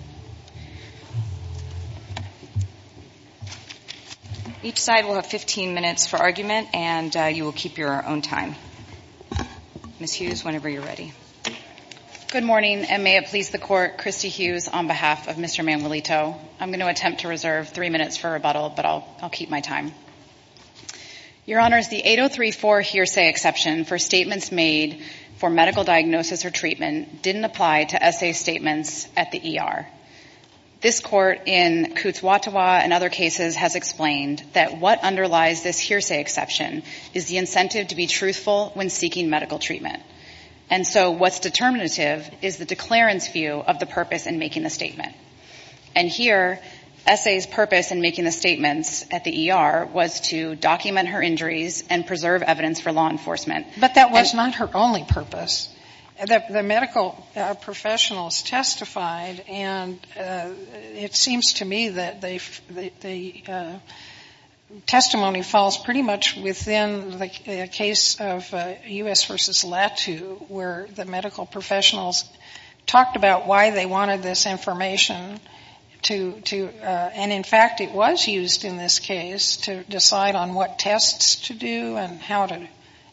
on behalf of Mr. Manuelito. I'm going to attempt to reserve three minutes for rebuttal, but I'll keep my time. Your Honors, the 8034 hearsay exception for statements made for medical treatment. This Court in Cootes-Watawa and other cases has explained that what underlies this hearsay exception is the incentive to be truthful when seeking medical treatment. And so what's determinative is the declarant's view of the purpose in making the statement. And here, S.A.'s purpose in making the statements at the ER was to document her injuries and preserve evidence for law enforcement. But that was not her only purpose. The medical professionals testified, and it seems to me that the testimony falls pretty much within the case of U.S. v. Latu, where the medical professionals talked about why they wanted this information. And in fact, it was used in this case to decide on what tests to do and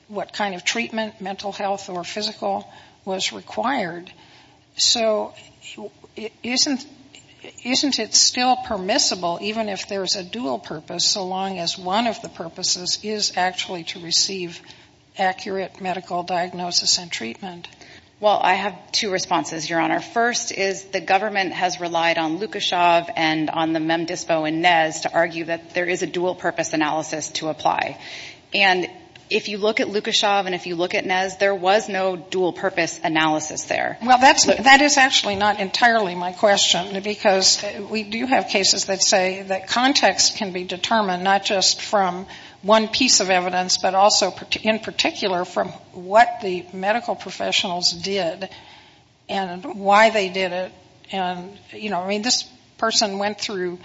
what kind of treatment, mental health or physical, was required. So isn't it still permissible, even if there's a dual purpose, so long as one of the purposes is actually to receive accurate medical diagnosis and treatment? Well, I have two responses, Your Honor. First is the government has relied on Lukashov and on the MEMDISPO and NES to argue that there is a dual purpose analysis to apply. And if you look at Lukashov and if you look at NES, there was no dual purpose analysis there. Well, that is actually not entirely my question, because we do have cases that say that context can be determined not just from one piece of evidence, but also in particular from what the medical profession went through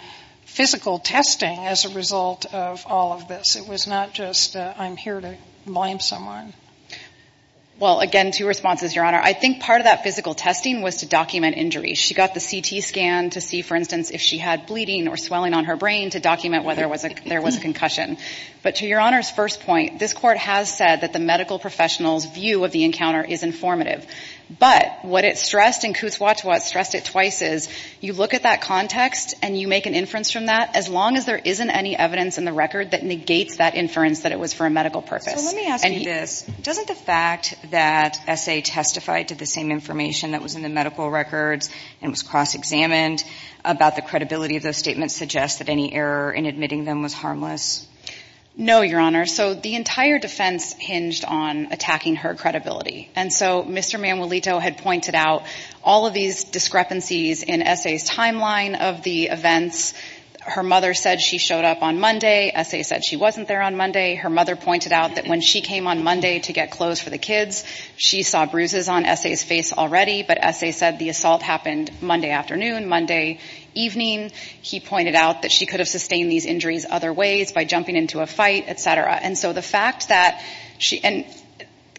physical testing as a result of all of this. It was not just I'm here to blame someone. Well, again, two responses, Your Honor. I think part of that physical testing was to document injury. She got the CT scan to see, for instance, if she had bleeding or swelling on her brain to document whether there was a concussion. But to Your Honor's first point, this Court has said that the medical professionals' view of the encounter is informative. But what it stressed, and Kuzwatov stressed it twice, is you look at that context and you make an inference from that, as long as there isn't any evidence in the record that negates that inference that it was for a medical purpose. So let me ask you this. Doesn't the fact that S.A. testified to the same information that was in the medical records and was cross-examined about the credibility of those statements suggest that any error in admitting them was harmless? No, Your Honor. So the entire defense hinged on attacking her credibility. And so Mr. Kuzwatov made discrepancies in S.A.'s timeline of the events. Her mother said she showed up on Monday. S.A. said she wasn't there on Monday. Her mother pointed out that when she came on Monday to get clothes for the kids, she saw bruises on S.A.'s face already. But S.A. said the assault happened Monday afternoon, Monday evening. He pointed out that she could have sustained these injuries other ways, by jumping into a fight, et cetera. And so the fact that she and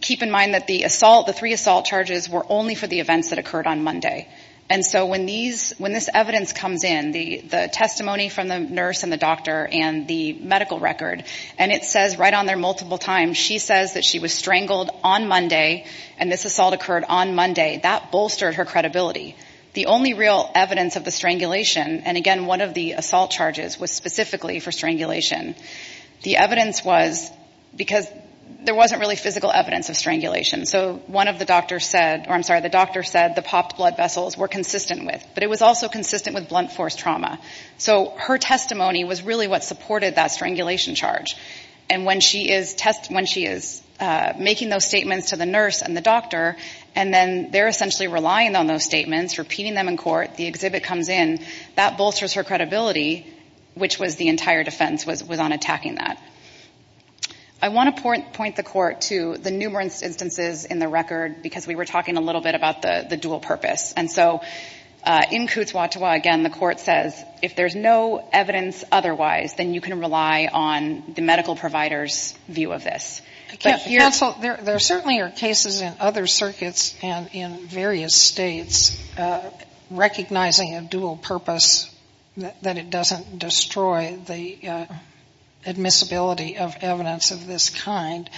keep in mind that the assault, the three assault charges were only for the strangulation. And so when these, when this evidence comes in, the testimony from the nurse and the doctor and the medical record, and it says right on there multiple times, she says that she was strangled on Monday and this assault occurred on Monday, that bolstered her credibility. The only real evidence of the strangulation, and again, one of the assault charges was specifically for strangulation, the evidence was because there wasn't really physical evidence of strangulation. So one of the doctors said, or I'm sorry, the doctor said the blood vessels were consistent with, but it was also consistent with blunt force trauma. So her testimony was really what supported that strangulation charge. And when she is test, when she is making those statements to the nurse and the doctor, and then they're essentially relying on those statements, repeating them in court, the exhibit comes in, that bolsters her credibility, which was the entire defense was on attacking that. I want to point the court to the numerous instances in the record, because we were talking a little bit about the dual purpose. And so in Coots-Watawa, again, the court says if there's no evidence otherwise, then you can rely on the medical provider's view of this. Sotomayor There certainly are cases in other circuits and in various states recognizing a dual purpose, that it doesn't destroy the admissibility of evidence of this kind.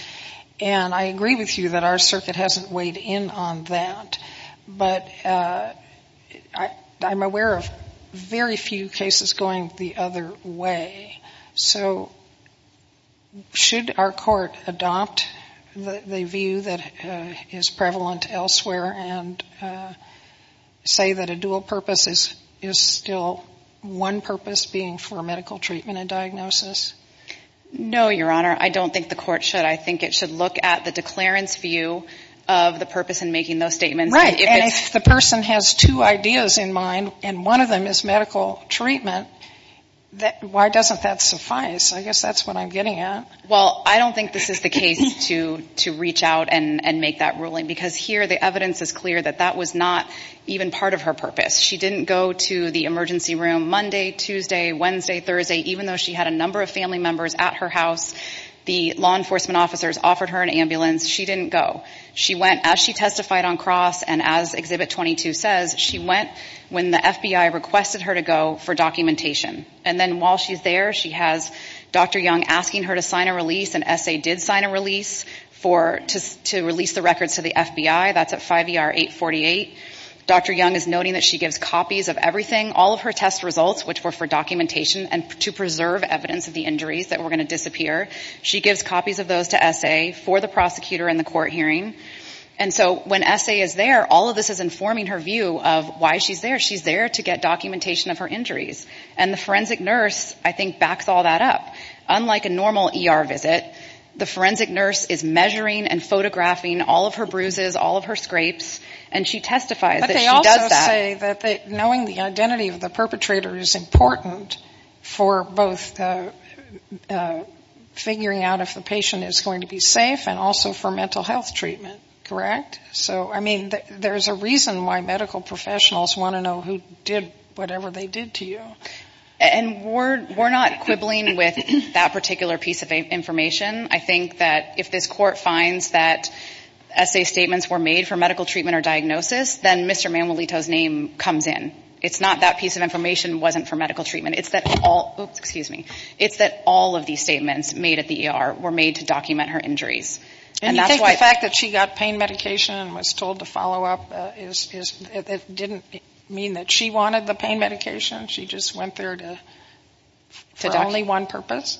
And I agree with you that our circuit hasn't weighed in on that. But I'm aware of very few cases going the other way. So should our court adopt the view that is prevalent elsewhere and say that a dual purpose is still one purpose, being for medical treatment and diagnosis? No, Your Honor. I don't think the court should. I think it should look at the declarant's view of the purpose in making those statements. Sotomayor Right. And if the person has two ideas in mind, and one of them is medical treatment, why doesn't that suffice? I guess that's what I'm getting at. Well, I don't think this is the case to reach out and make that ruling, because here the evidence is clear that that was not even part of her purpose. She didn't go to the emergency room Monday, Tuesday, Wednesday, Thursday, even though she had a number of family members at her house. The law enforcement officers offered her an ambulance. She didn't go. She went, as she testified on cross and as Exhibit 22 says, she went when the FBI requested her to go for documentation. And then while she's there, she has Dr. Young asking her to sign a release, and S.A. did sign a release to release the records to the FBI. That's at 5ER 848. Dr. Young asked her to sign a release, and S.A. did sign a release. Dr. Young is noting that she gives copies of everything, all of her test results, which were for documentation and to preserve evidence of the injuries that were going to disappear. She gives copies of those to S.A. for the prosecutor and the court hearing. And so when S.A. is there, all of this is informing her view of why she's there. She's there to get documentation of her injuries. And the forensic nurse, I think, backs all that up. Unlike a normal ER visit, the forensic nurse is measuring and photographing all of her bruises, all of her scrapes, and she I would also say that knowing the identity of the perpetrator is important for both figuring out if the patient is going to be safe and also for mental health treatment, correct? So, I mean, there's a reason why medical professionals want to know who did whatever they did to you. And we're not quibbling with that particular piece of information. I think that if this court finds that S.A. statements were made for medical treatment, it's that all of these statements made at the ER were made to document her injuries. And you think the fact that she got pain medication and was told to follow up, it didn't mean that she wanted the pain medication? She just went there for only one purpose?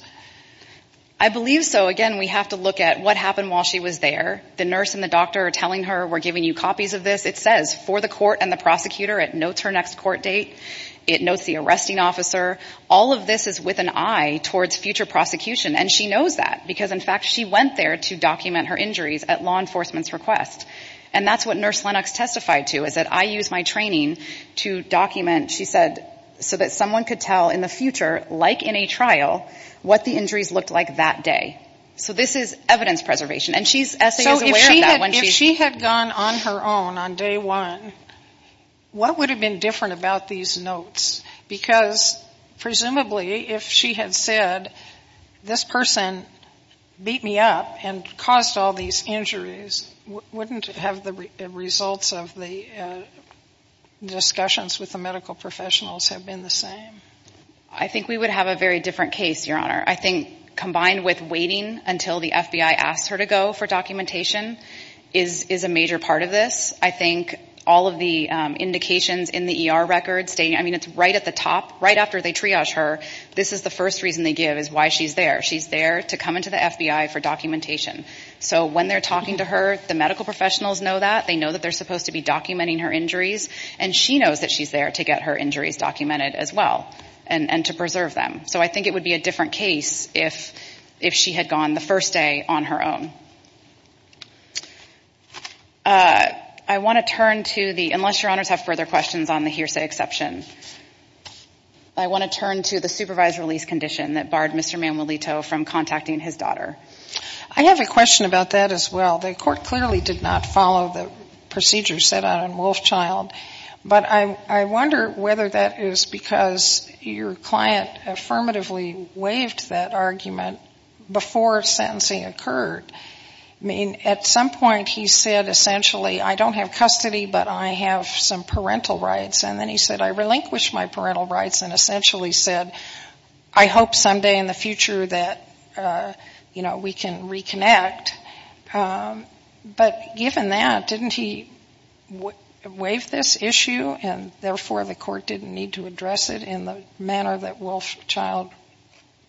I believe so. Again, we have to look at what happened while she was there. The nurse and the doctor are telling her, we're giving you a date. It notes the prosecutor. It notes her next court date. It notes the arresting officer. All of this is with an eye towards future prosecution. And she knows that. Because, in fact, she went there to document her injuries at law enforcement's request. And that's what nurse Lennox testified to, is that I used my training to document, she said, so that someone could tell in the future, like in a trial, what the injuries looked like that day. So this is evidence preservation. And she's, S.A. is aware of that. If she had gone on her own on day one, what would have been different about these notes? Because, presumably, if she had said, this person beat me up and caused all these injuries, wouldn't have the results of the discussions with the medical professionals have been the same? I think we would have a very different case, Your Honor. I think, combined with waiting until the FBI asks her to go for documentation, is a major part of this. I think all of the indications in the ER records, I mean, it's right at the top, right after they triage her, this is the first reason they give, is why she's there. She's there to come into the FBI for documentation. So when they're talking to her, the medical professionals know that. They know that they're supposed to be documenting her injuries. And she knows that she's there to get her injuries documented, as well, and to preserve them. So I think it would be a different case if she had gone the first day on her own. I want to turn to the, unless Your Honors have further questions on the hearsay exception. I want to turn to the supervised release condition that barred Mr. Manuelito from contacting his daughter. I have a question about that, as well. The Court clearly did not follow the procedures set out in Wolfchild. But I wonder whether that is because your client affirmatively waived that argument before sentencing occurred. I mean, at some point he said essentially, I don't have custody, but I have some parental rights. And then he said, I relinquish my parental rights, and essentially said, I hope someday in the future that, you know, we can reconnect. But given that, didn't he waive this issue? And therefore, the Court didn't need to address it in the manner that Wolfchild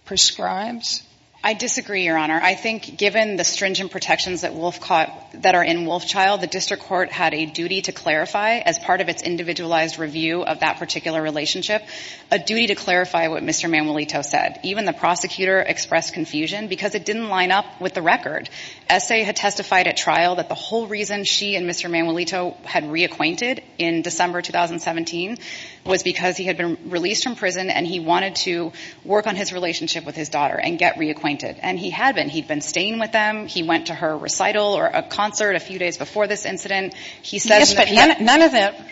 prescribes? I disagree, Your Honor. I think given the stringent protections that are in Wolfchild, the District Court had a duty to clarify, as part of its individualized review of that particular relationship, a duty to clarify what Mr. Manuelito said. Even the prosecutor expressed confusion because it didn't line up with the record. Essay had testified at trial that the whole reason she and Mr. Manuelito met in 2017 was because he had been released from prison and he wanted to work on his relationship with his daughter and get reacquainted. And he had been. He had been staying with them. He went to her recital or a concert a few days before this incident. He says in the panel that... Yes, but none of that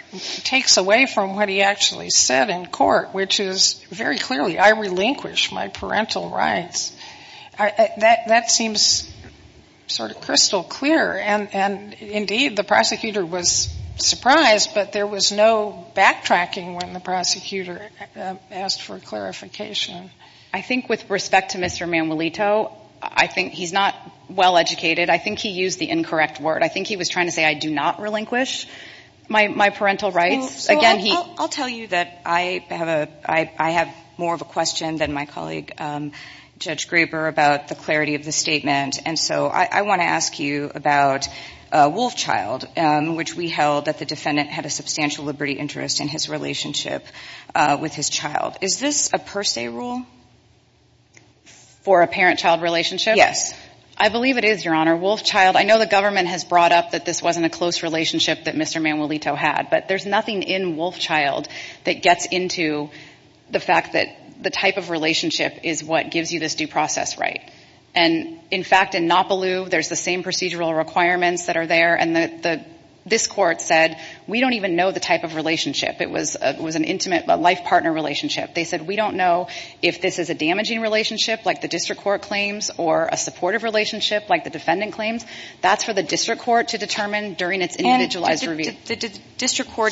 takes away from what he actually said in court, which is very clearly, I relinquish my parental rights. That seems sort of crystal clear. And, indeed, the prosecutor was surprised, but there was no indication that he was so backtracking when the prosecutor asked for clarification. I think with respect to Mr. Manuelito, I think he's not well-educated. I think he used the incorrect word. I think he was trying to say, I do not relinquish my parental rights. Again, he... I'll tell you that I have more of a question than my colleague Judge Graber about the clarity of the statement. And so I want to ask you about Wolfchild, which we held that the defendant had a substantial liberty interest in his relationship with his child. Is this a per se rule? For a parent-child relationship? Yes. I believe it is, Your Honor. Wolfchild, I know the government has brought up that this wasn't a close relationship that Mr. Manuelito had. But there's nothing in Wolfchild that gets into the fact that the type of relationship is what gives you this due process right. And, in fact, in Nopaloo, there's the same procedural requirements that are there. And this Court said, we don't even know the type of relationship. It was an intimate life partner relationship. They said, we don't know if this is a damaging relationship, like the district court claims, or a supportive relationship, like the district court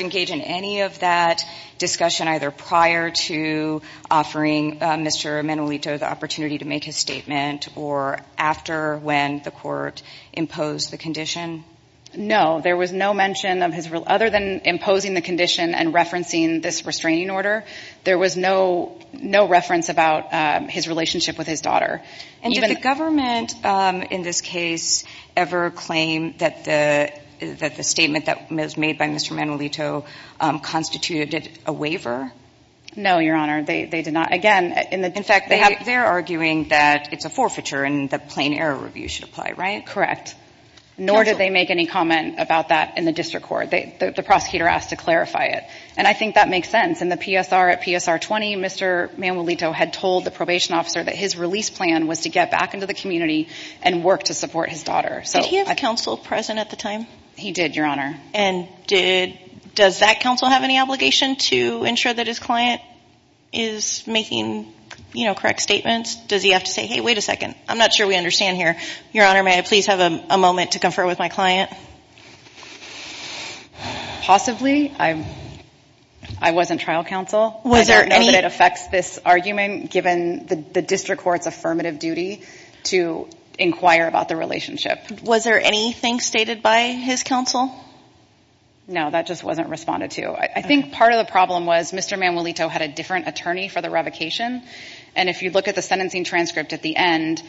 engaged in any of that discussion, either prior to offering Mr. Manuelito the opportunity to make his statement, or after when the court imposed the condition? No. There was no mention of his... Other than imposing the condition and referencing this restraining order, there was no reference about his relationship with his daughter. And did the government in this case ever claim that the statement that was made by Mr. Manuelito constituted a waiver? No, Your Honor. They did not. Again, in the... In fact, they're arguing that it's a forfeiture and that plain error review should apply, right? Correct. Nor did they make any comment about that in the district court. The prosecutor asked to clarify it. And I think that makes sense. In the PSR at PSR 20, Mr. Manuelito had told the probation officer that his release plan was to get back into the community and work to support his daughter. Did he have counsel present at the time? He did, Your Honor. And does that counsel have any obligation to ensure that his client is making correct statements? Does he have to say, hey, wait a second, I'm not sure we understand that. I don't know that it affects this argument, given the district court's affirmative duty to inquire about the relationship. Was there anything stated by his counsel? No, that just wasn't responded to. I think part of the problem was Mr. Manuelito had a different attorney for the revocation. And if you look at the sentencing transcript at the end,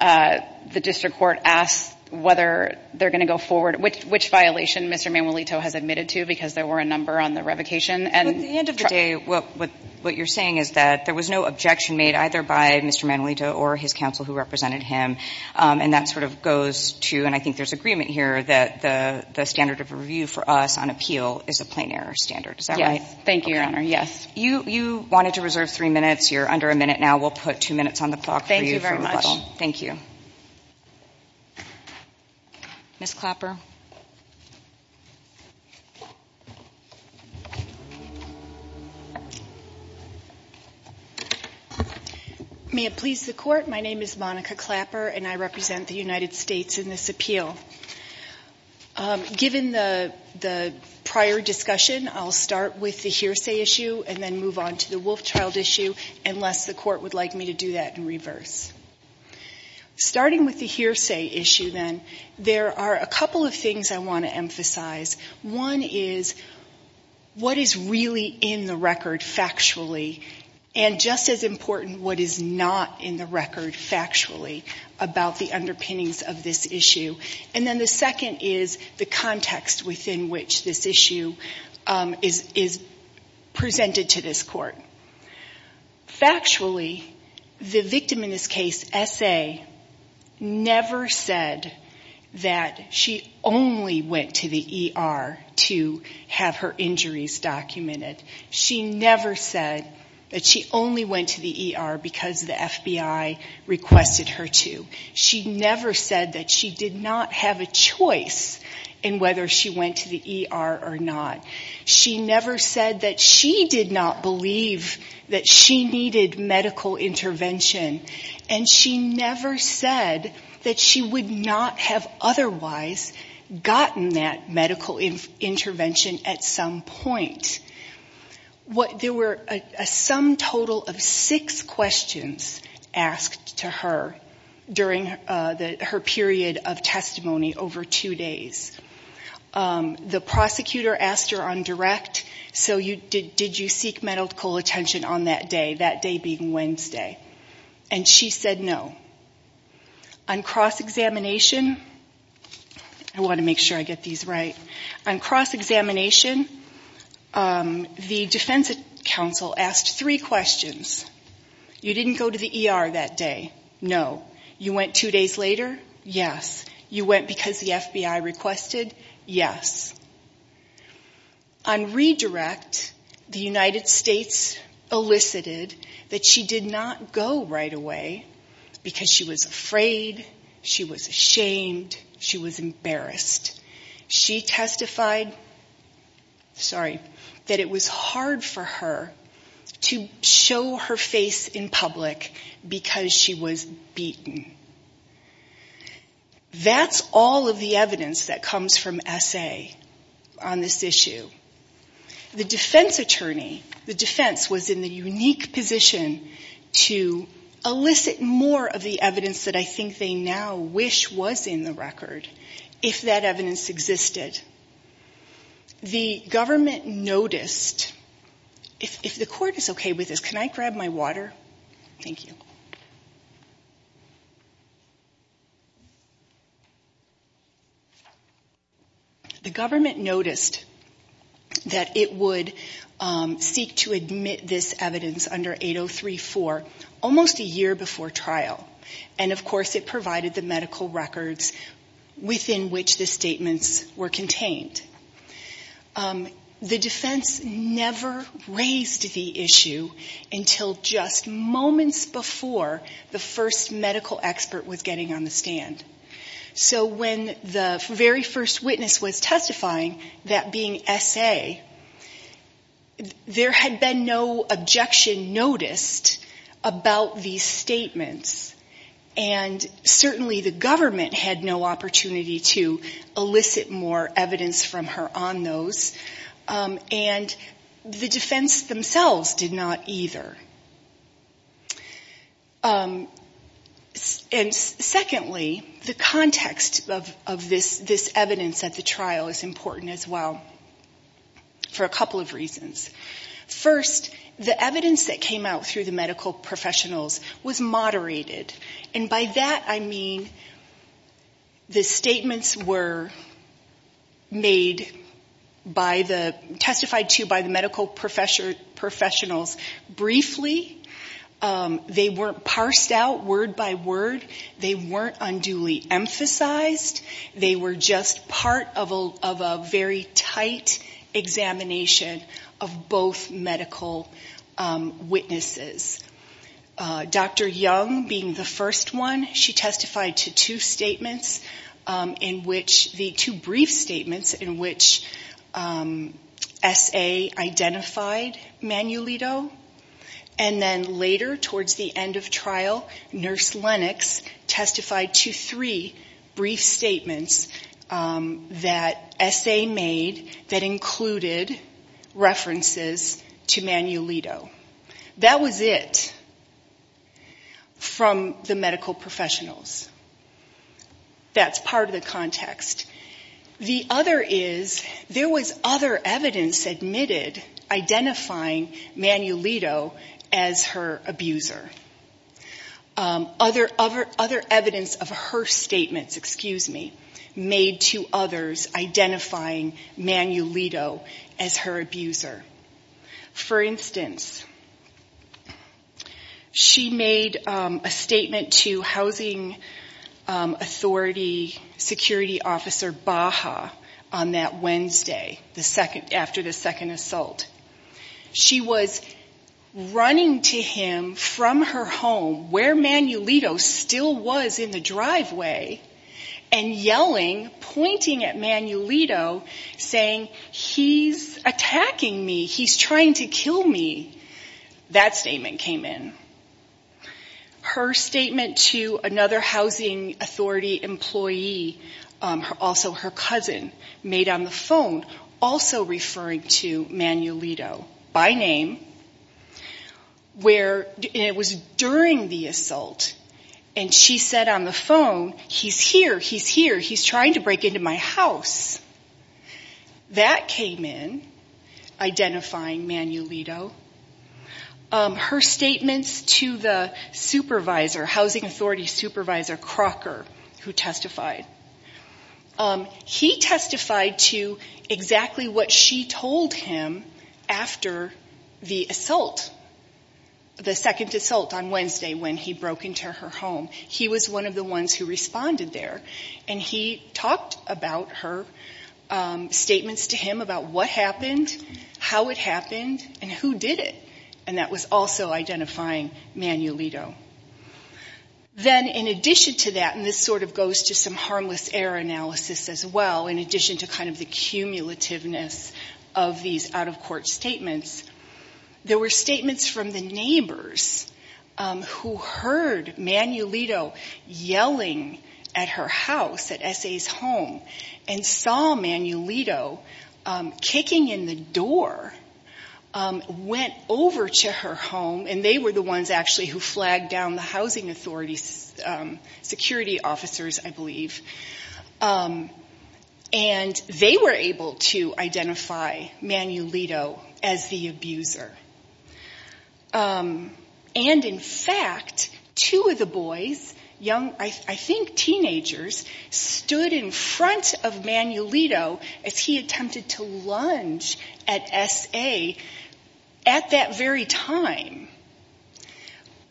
the district court asked whether they're going to go forward, which violation Mr. Manuelito has admitted to because there were a number on the revocation. At the end of the day, what you're saying is that there was no objection made either by Mr. Manuelito or his counsel who represented him. And that sort of goes to, and I think there's agreement here, that the standard of review for us on appeal is a plain error standard. Is that right? Thank you, Your Honor. Yes, you wanted to reserve three minutes. You're under a minute now. We'll put two minutes on the clock for you. Thank you very much. May it please the Court, my name is Monica Clapper and I represent the United States in this appeal. Given the prior discussion, I'll start with the hearsay issue. And then move on to the Wolfchild issue, unless the Court would like me to do that in reverse. Starting with the hearsay issue, then, there are a couple of things I want to emphasize. One is what is really in the record factually, and just as important, what is not in the record factually about the underpinnings of this issue. And then the second is the context within which this issue is presented. Factually, the victim in this case, S.A., never said that she only went to the ER to have her injuries documented. She never said that she only went to the ER because the FBI requested her to. She never said that she did not have a choice in whether she went to the ER or not. She never said that she did not believe that she needed medical intervention. And she never said that she would not have otherwise gotten that medical intervention at some point. There were a sum total of six questions asked to her during her period of testimony over two days. The prosecutor asked her on direct, so did you seek medical attention on that day, that day being Wednesday? And she said no. On cross-examination, I want to make sure I get these right. On cross-examination, the defense counsel asked three questions. You didn't go to the ER that day? No. You went two days later? Yes. You went because the FBI requested? Yes. On redirect, the United States elicited that she did not go right away because she was afraid, she was ashamed, she was embarrassed. She testified that it was hard for her to show her face in public because she was beaten. That's all of the evidence that comes from S.A. on this issue. The defense attorney, the defense was in the unique position to elicit more of the evidence that I think they now wish was in the record, if that evidence existed. The government noticed, if the court is okay with this, can I grab my water? Thank you. The government noticed that it would seek to admit this evidence under 803-4 almost a year before trial. And of course it provided the medical records within which the statements were contained. The defense never raised the issue until just moments before the first medical evidence was submitted. So when the very first witness was testifying, that being S.A., there had been no objection noticed about these statements. And certainly the government had no opportunity to elicit more evidence from her on those. And the defense themselves did not either. And secondly, the context of this evidence at the trial is important as well for a couple of reasons. First, the evidence that came out through the medical professionals was moderated. And by that I mean the statements were made by the, testified to by the medical professionals briefly. They weren't parsed out word by word. They weren't unduly emphasized. They were just part of a very tight examination of both medical witnesses. Dr. Young being the first one, she testified to two brief statements in which S.A. identified Manuelito. And then later towards the end of trial, Nurse Lennox testified to three brief statements that S.A. made that included references to Manuelito. That was it from the medical professionals. That's part of the context. The other is, there was other evidence admitted identifying Manuelito as her abuser. Other evidence of her statements, excuse me, made to others identifying Manuelito as her abuser. For instance, she made a statement to housing authority security officers that Manuelito was her abuser. She was running to him from her home, where Manuelito still was in the driveway, and yelling, pointing at Manuelito, saying, he's attacking me, he's trying to kill me. That statement came in. Her statement to another housing authority employee, also her cousin, made on the phone, also referring to Manuelito by name, where it was during the assault. And she said on the phone, he's here, he's here, he's trying to break into my house. That came in, identifying Manuelito. Her statements to the supervisor, housing authority supervisor Crocker, who testified. He testified to exactly what she told him after the assault, the second assault on Wednesday when he broke into her home. He was one of the ones who responded there. And he talked about her statements to him about what happened, how it happened, and who did it. And that was also identifying Manuelito. Then in addition to that, and this sort of goes to some harmless error analysis as well, in addition to kind of the cumulativeness of these out-of-court statements, there were statements from the neighbors who heard Manuelito yelling at her house. At S.A.'s home, and saw Manuelito kicking in the door, went over to her home, and they were the ones actually who flagged down the housing authority security officers, I believe. And they were able to identify Manuelito as the abuser. And in fact, two of the boys, young, I think teenagers, stood in front of Manuelito as he attempted to lunge at S.A. At that very time,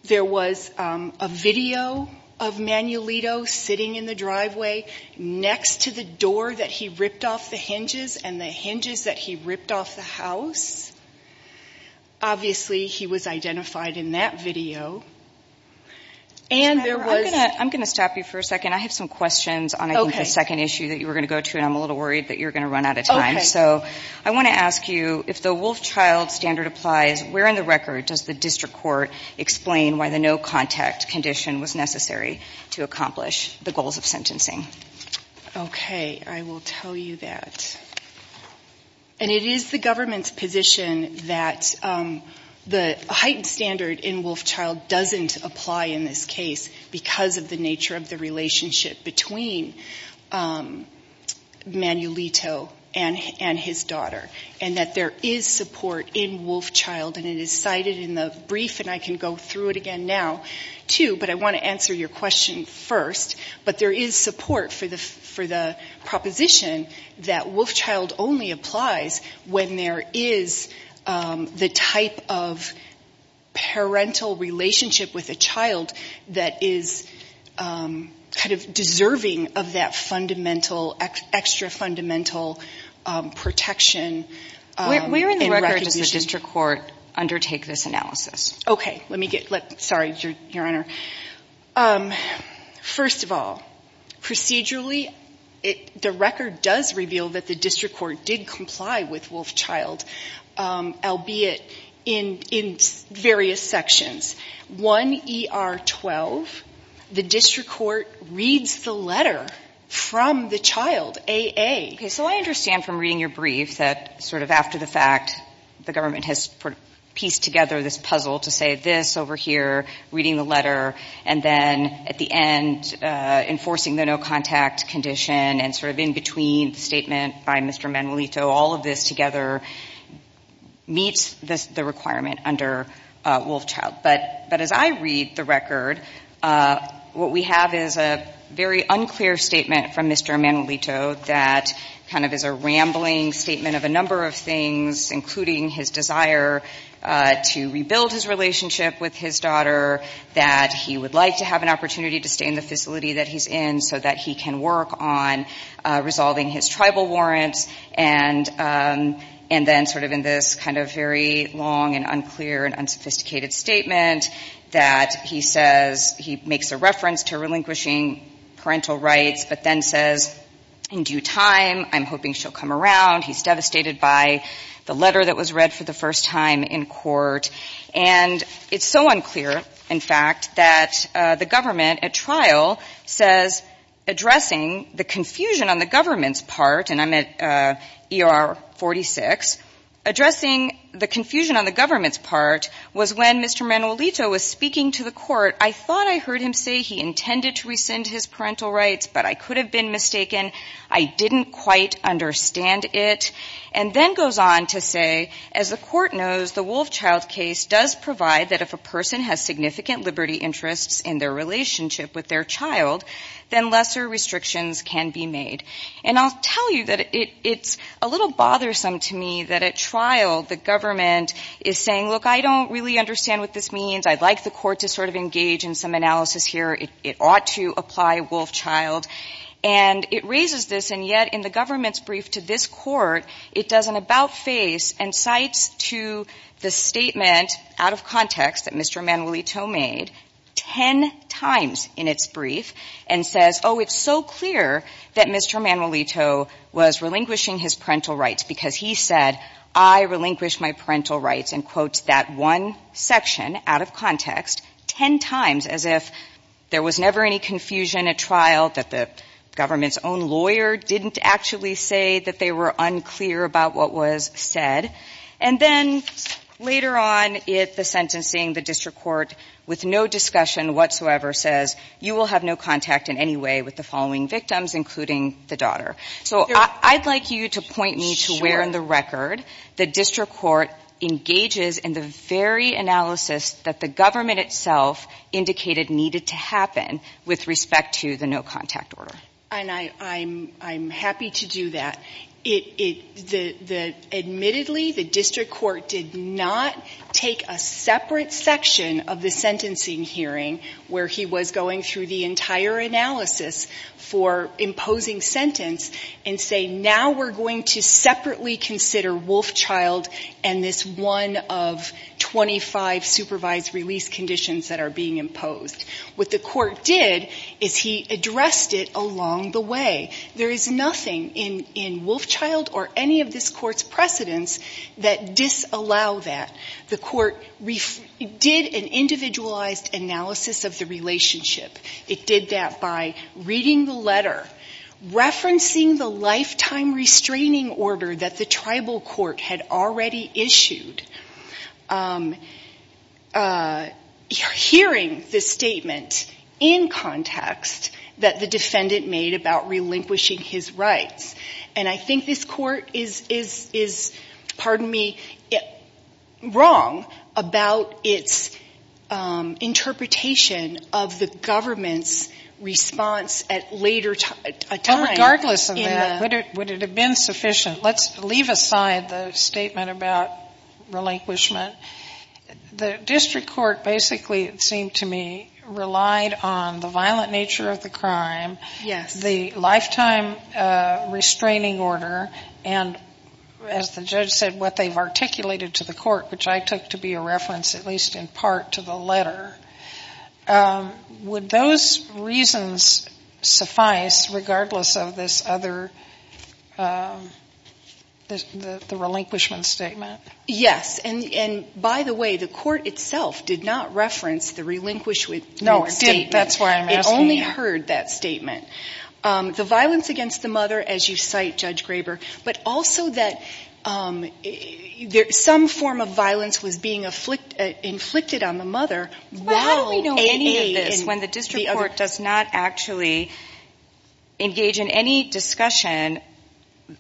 there was a video of Manuelito sitting in the driveway next to the door that he ripped off the hinges and the hinges that he ripped off the house. Obviously, he was identified in that video. And there was... I'm going to stop you for a second. I have some questions on, I think, the second issue that you were going to go to, and I'm a little worried that you're going to run out of time. So I want to ask you, if the Wolf-Child standard applies, where in the record does the district court explain why the no-contact condition was necessary to accomplish the goals of sentencing? Okay, I will tell you that. The heightened standard in Wolf-Child doesn't apply in this case because of the nature of the relationship between Manuelito and his daughter. And that there is support in Wolf-Child, and it is cited in the brief, and I can go through it again now, too, but I want to answer your question first. But there is support for the proposition that Wolf-Child only applies when there is the time and the place to do it. And that there is a type of parental relationship with a child that is kind of deserving of that fundamental, extra-fundamental protection. Where in the record does the district court undertake this analysis? Okay, let me get... Sorry, Your Honor. First of all, procedurally, the record does reveal that the district court did comply with Wolf-Child, albeit in various sections. 1ER12, the district court reads the letter from the child, A.A. Okay, so I understand from reading your brief that sort of after the fact, the government has pieced together this puzzle to say this over here, reading the letter, and then at the end, enforcing the no-contact condition, and sort of in between the statement by Mr. Manuelito, all of this together meets the requirement under Wolf-Child. But as I read the record, what we have is a very unclear statement from Mr. Manuelito that kind of is a rambling statement of a number of things, including his desire to rebuild his relationship with his daughter, that he would like to have an opportunity to stay in the facility that he's in so that he can work on resolving his tribal warrants, and then sort of in this kind of very long and unclear and unsophisticated statement that he says he makes a reference to relinquishing parental rights, but then says, in due time, I'm hoping she'll come around. He's devastated by the letter that was read for the first time in court. And it's so unclear, in fact, that the government at trial says addressing the confusion on the government's part, and I'm at ER 46, addressing the confusion on the government's part was when Mr. Manuelito was speaking to the court, I thought I heard him say he intended to rescind his parental rights, but I could have been mistaken. I didn't quite understand it. And then goes on to say, as the court knows, the Wolfchild case does provide that if a person has significant liberty interests in their relationship with their child, then lesser restrictions can be made. And I'll tell you that it's a little bothersome to me that at trial the government is saying, look, I don't really understand what this means. I'd like the court to sort of engage in some analysis here. It ought to apply Wolfchild. And it raises this, and yet in the government's brief to this court, it does an about-face and cites to the statement out of context that Mr. Manuelito made 10 times in its brief and says, oh, it's so clear that Mr. Manuelito was relinquishing his parental rights because he said, I relinquish my parental rights, and quotes that one section out of context 10 times as if the government didn't actually say that there was never any confusion at trial, that the government's own lawyer didn't actually say that they were unclear about what was said. And then later on in the sentencing, the district court with no discussion whatsoever says, you will have no contact in any way with the following victims, including the daughter. So I'd like you to point me to where in the record the district court engages in the very analysis that the government itself indicated needed to happen with respect to the no contact order. And I'm happy to do that. Admittedly, the district court did not take a separate section of the sentencing hearing where he was going through the entire analysis for imposing sentence and say, now we're going to separately consider Wolfchild and this one of 25 supervised release conditions that are being imposed. What the court did is he addressed it along the way. There is nothing in Wolfchild or any of this court's precedents that disallow that. The court did an individualized analysis of the relationship. It did that by reading the letter, referencing the lifetime restraining order that the tribal court had already issued, hearing the statement in context that the defendant made about relinquishing his rights. And I think this court is, pardon me, wrong about its interpretation of the government's response at a later time. Regardless of that, would it have been sufficient? Let's leave aside the statement about relinquishment. It relied on the violent nature of the crime, the lifetime restraining order, and as the judge said, what they've articulated to the court, which I took to be a reference at least in part to the letter. Would those reasons suffice regardless of this other, the relinquishment statement? Yes. And by the way, the court itself did not reference the relinquishment statement. No, it didn't. That's why I'm asking you. It only heard that statement. The violence against the mother, as you cite, Judge Graber, but also that some form of violence was being inflicted on the mother. Well, how do we know any of this when the district court does not actually engage in any discussion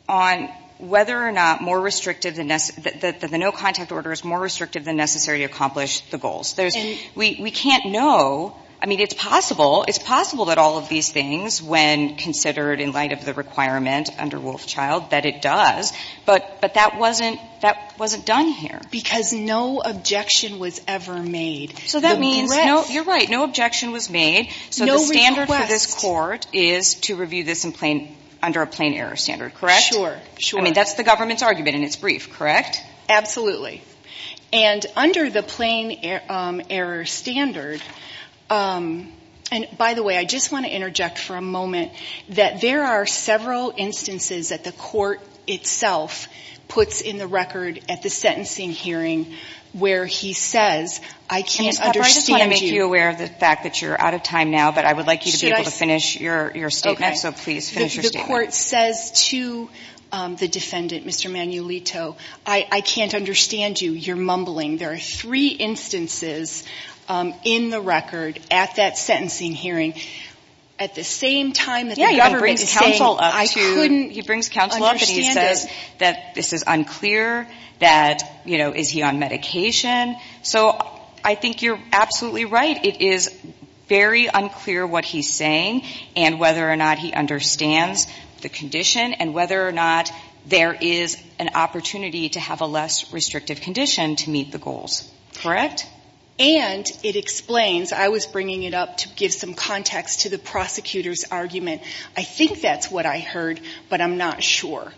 on whether or not the no-contact order is more restrictive than necessary to accomplish the goals? We can't know. I mean, it's possible that all of these things, when considered in light of the requirement under Wolfchild, that it does. But that wasn't done here. Because no objection was ever made. So that means, you're right, no objection was made. So the standard for this court is to review this under a plain error standard, correct? Sure. I mean, that's the government's argument, and it's brief, correct? Absolutely. And under the plain error standard, and by the way, I just want to interject for a moment, that there are several instances that the court itself puts in the record at the sentencing hearing where he says, I can't understand you. I just want to make you aware of the fact that you're out of time now, but I would like you to be able to finish your statement. The court says to the defendant, Mr. Manuelito, I can't understand you, you're mumbling. There are three instances in the record at that sentencing hearing at the same time that the government is saying, I couldn't understand it. He brings counsel up and he says that this is unclear, that, you know, is he on medication. So I think you're absolutely right. It is very unclear what he's saying and whether or not he understands the condition and whether or not there is an opportunity to have a less restrictive condition to meet the goals. Correct? And it explains, I was bringing it up to give some context to the prosecutor's argument. I think that's what I heard, but I'm not sure.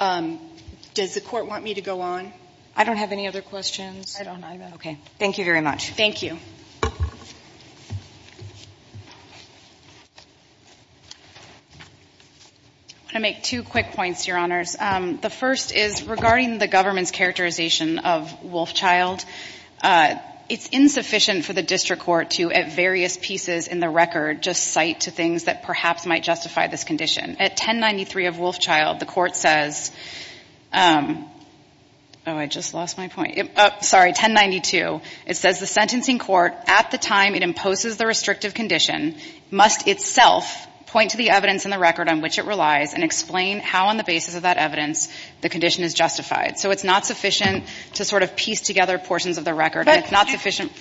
Does the court want me to go on? I don't have any other questions. I don't either. Okay. Regarding the government's characterization of Wolfchild, it's insufficient for the district court to, at various pieces in the record, just cite to things that perhaps might justify this condition. At 1093 of Wolfchild, the court says, oh, I just lost my point. Sorry, 1092. It says the sentencing court, at the time it imposes the restrictive condition, must itself point to the evidence in the record on which it relies and explain how, on the basis of that evidence, the condition is justified. So it's not sufficient to sort of piece together portions of the record. And it's not sufficient.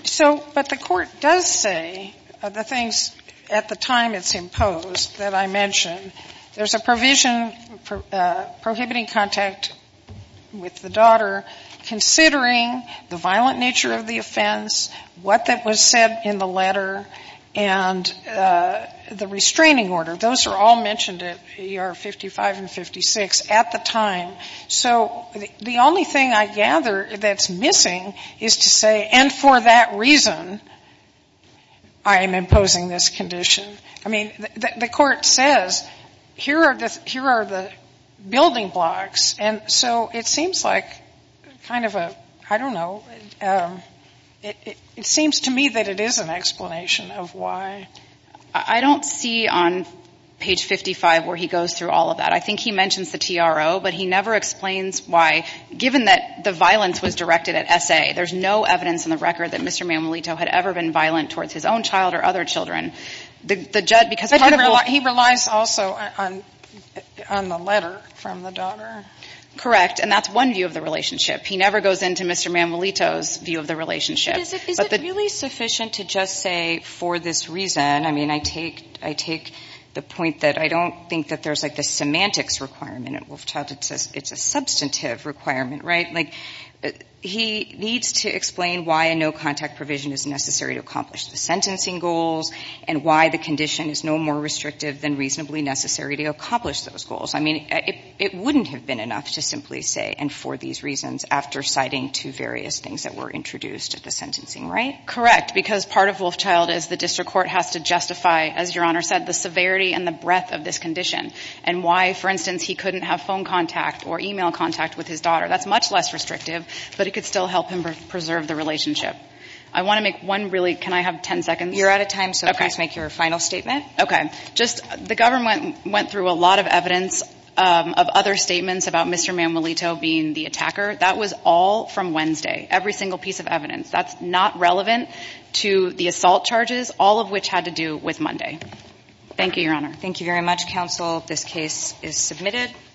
But the court does say the things at the time it's imposed that I mentioned. So the only thing I gather that's missing is to say, and for that reason, I am imposing this condition. I mean, the court says here are the building blocks, and so it seems like kind of a, I don't know, it seems to me that it is an explanation of why. I don't see on page 55 where he goes through all of that. I think he mentions the TRO, but he never explains why. Given that the violence was directed at S.A., there's no evidence in the record that Mr. Mammolito had ever been violent towards his own child or other children. But he relies also on the letter from the daughter. Correct. And that's one view of the relationship. He never goes into Mr. Mammolito's view of the relationship. But is it really sufficient to just say, for this reason, I mean, I take the point that I don't think that there's, like, the semantics requirement. It's a substantive requirement, right? Like, he needs to explain why a no-contact provision is necessary to accomplish the sentencing goals and why the condition is no more restrictive than reasonably necessary to accomplish those goals. I mean, it wouldn't have been enough to simply say, and for these reasons, after citing two various things that were introduced at the sentencing, right? Correct, because part of Wolfchild is the district court has to justify, as Your Honor said, the severity and the breadth of this condition and why, for instance, he couldn't have phone contact or e-mail contact with his daughter. That's much less restrictive, but it could still help him preserve the relationship. I want to make one really – can I have 10 seconds? You're out of time, so please make your final statement. Okay. Just the government went through a lot of evidence of other statements about Mr. Manuelito being the attacker. That was all from Wednesday, every single piece of evidence. That's not relevant to the assault charges, all of which had to do with Monday. Thank you, Your Honor. Thank you very much, counsel. This case is submitted.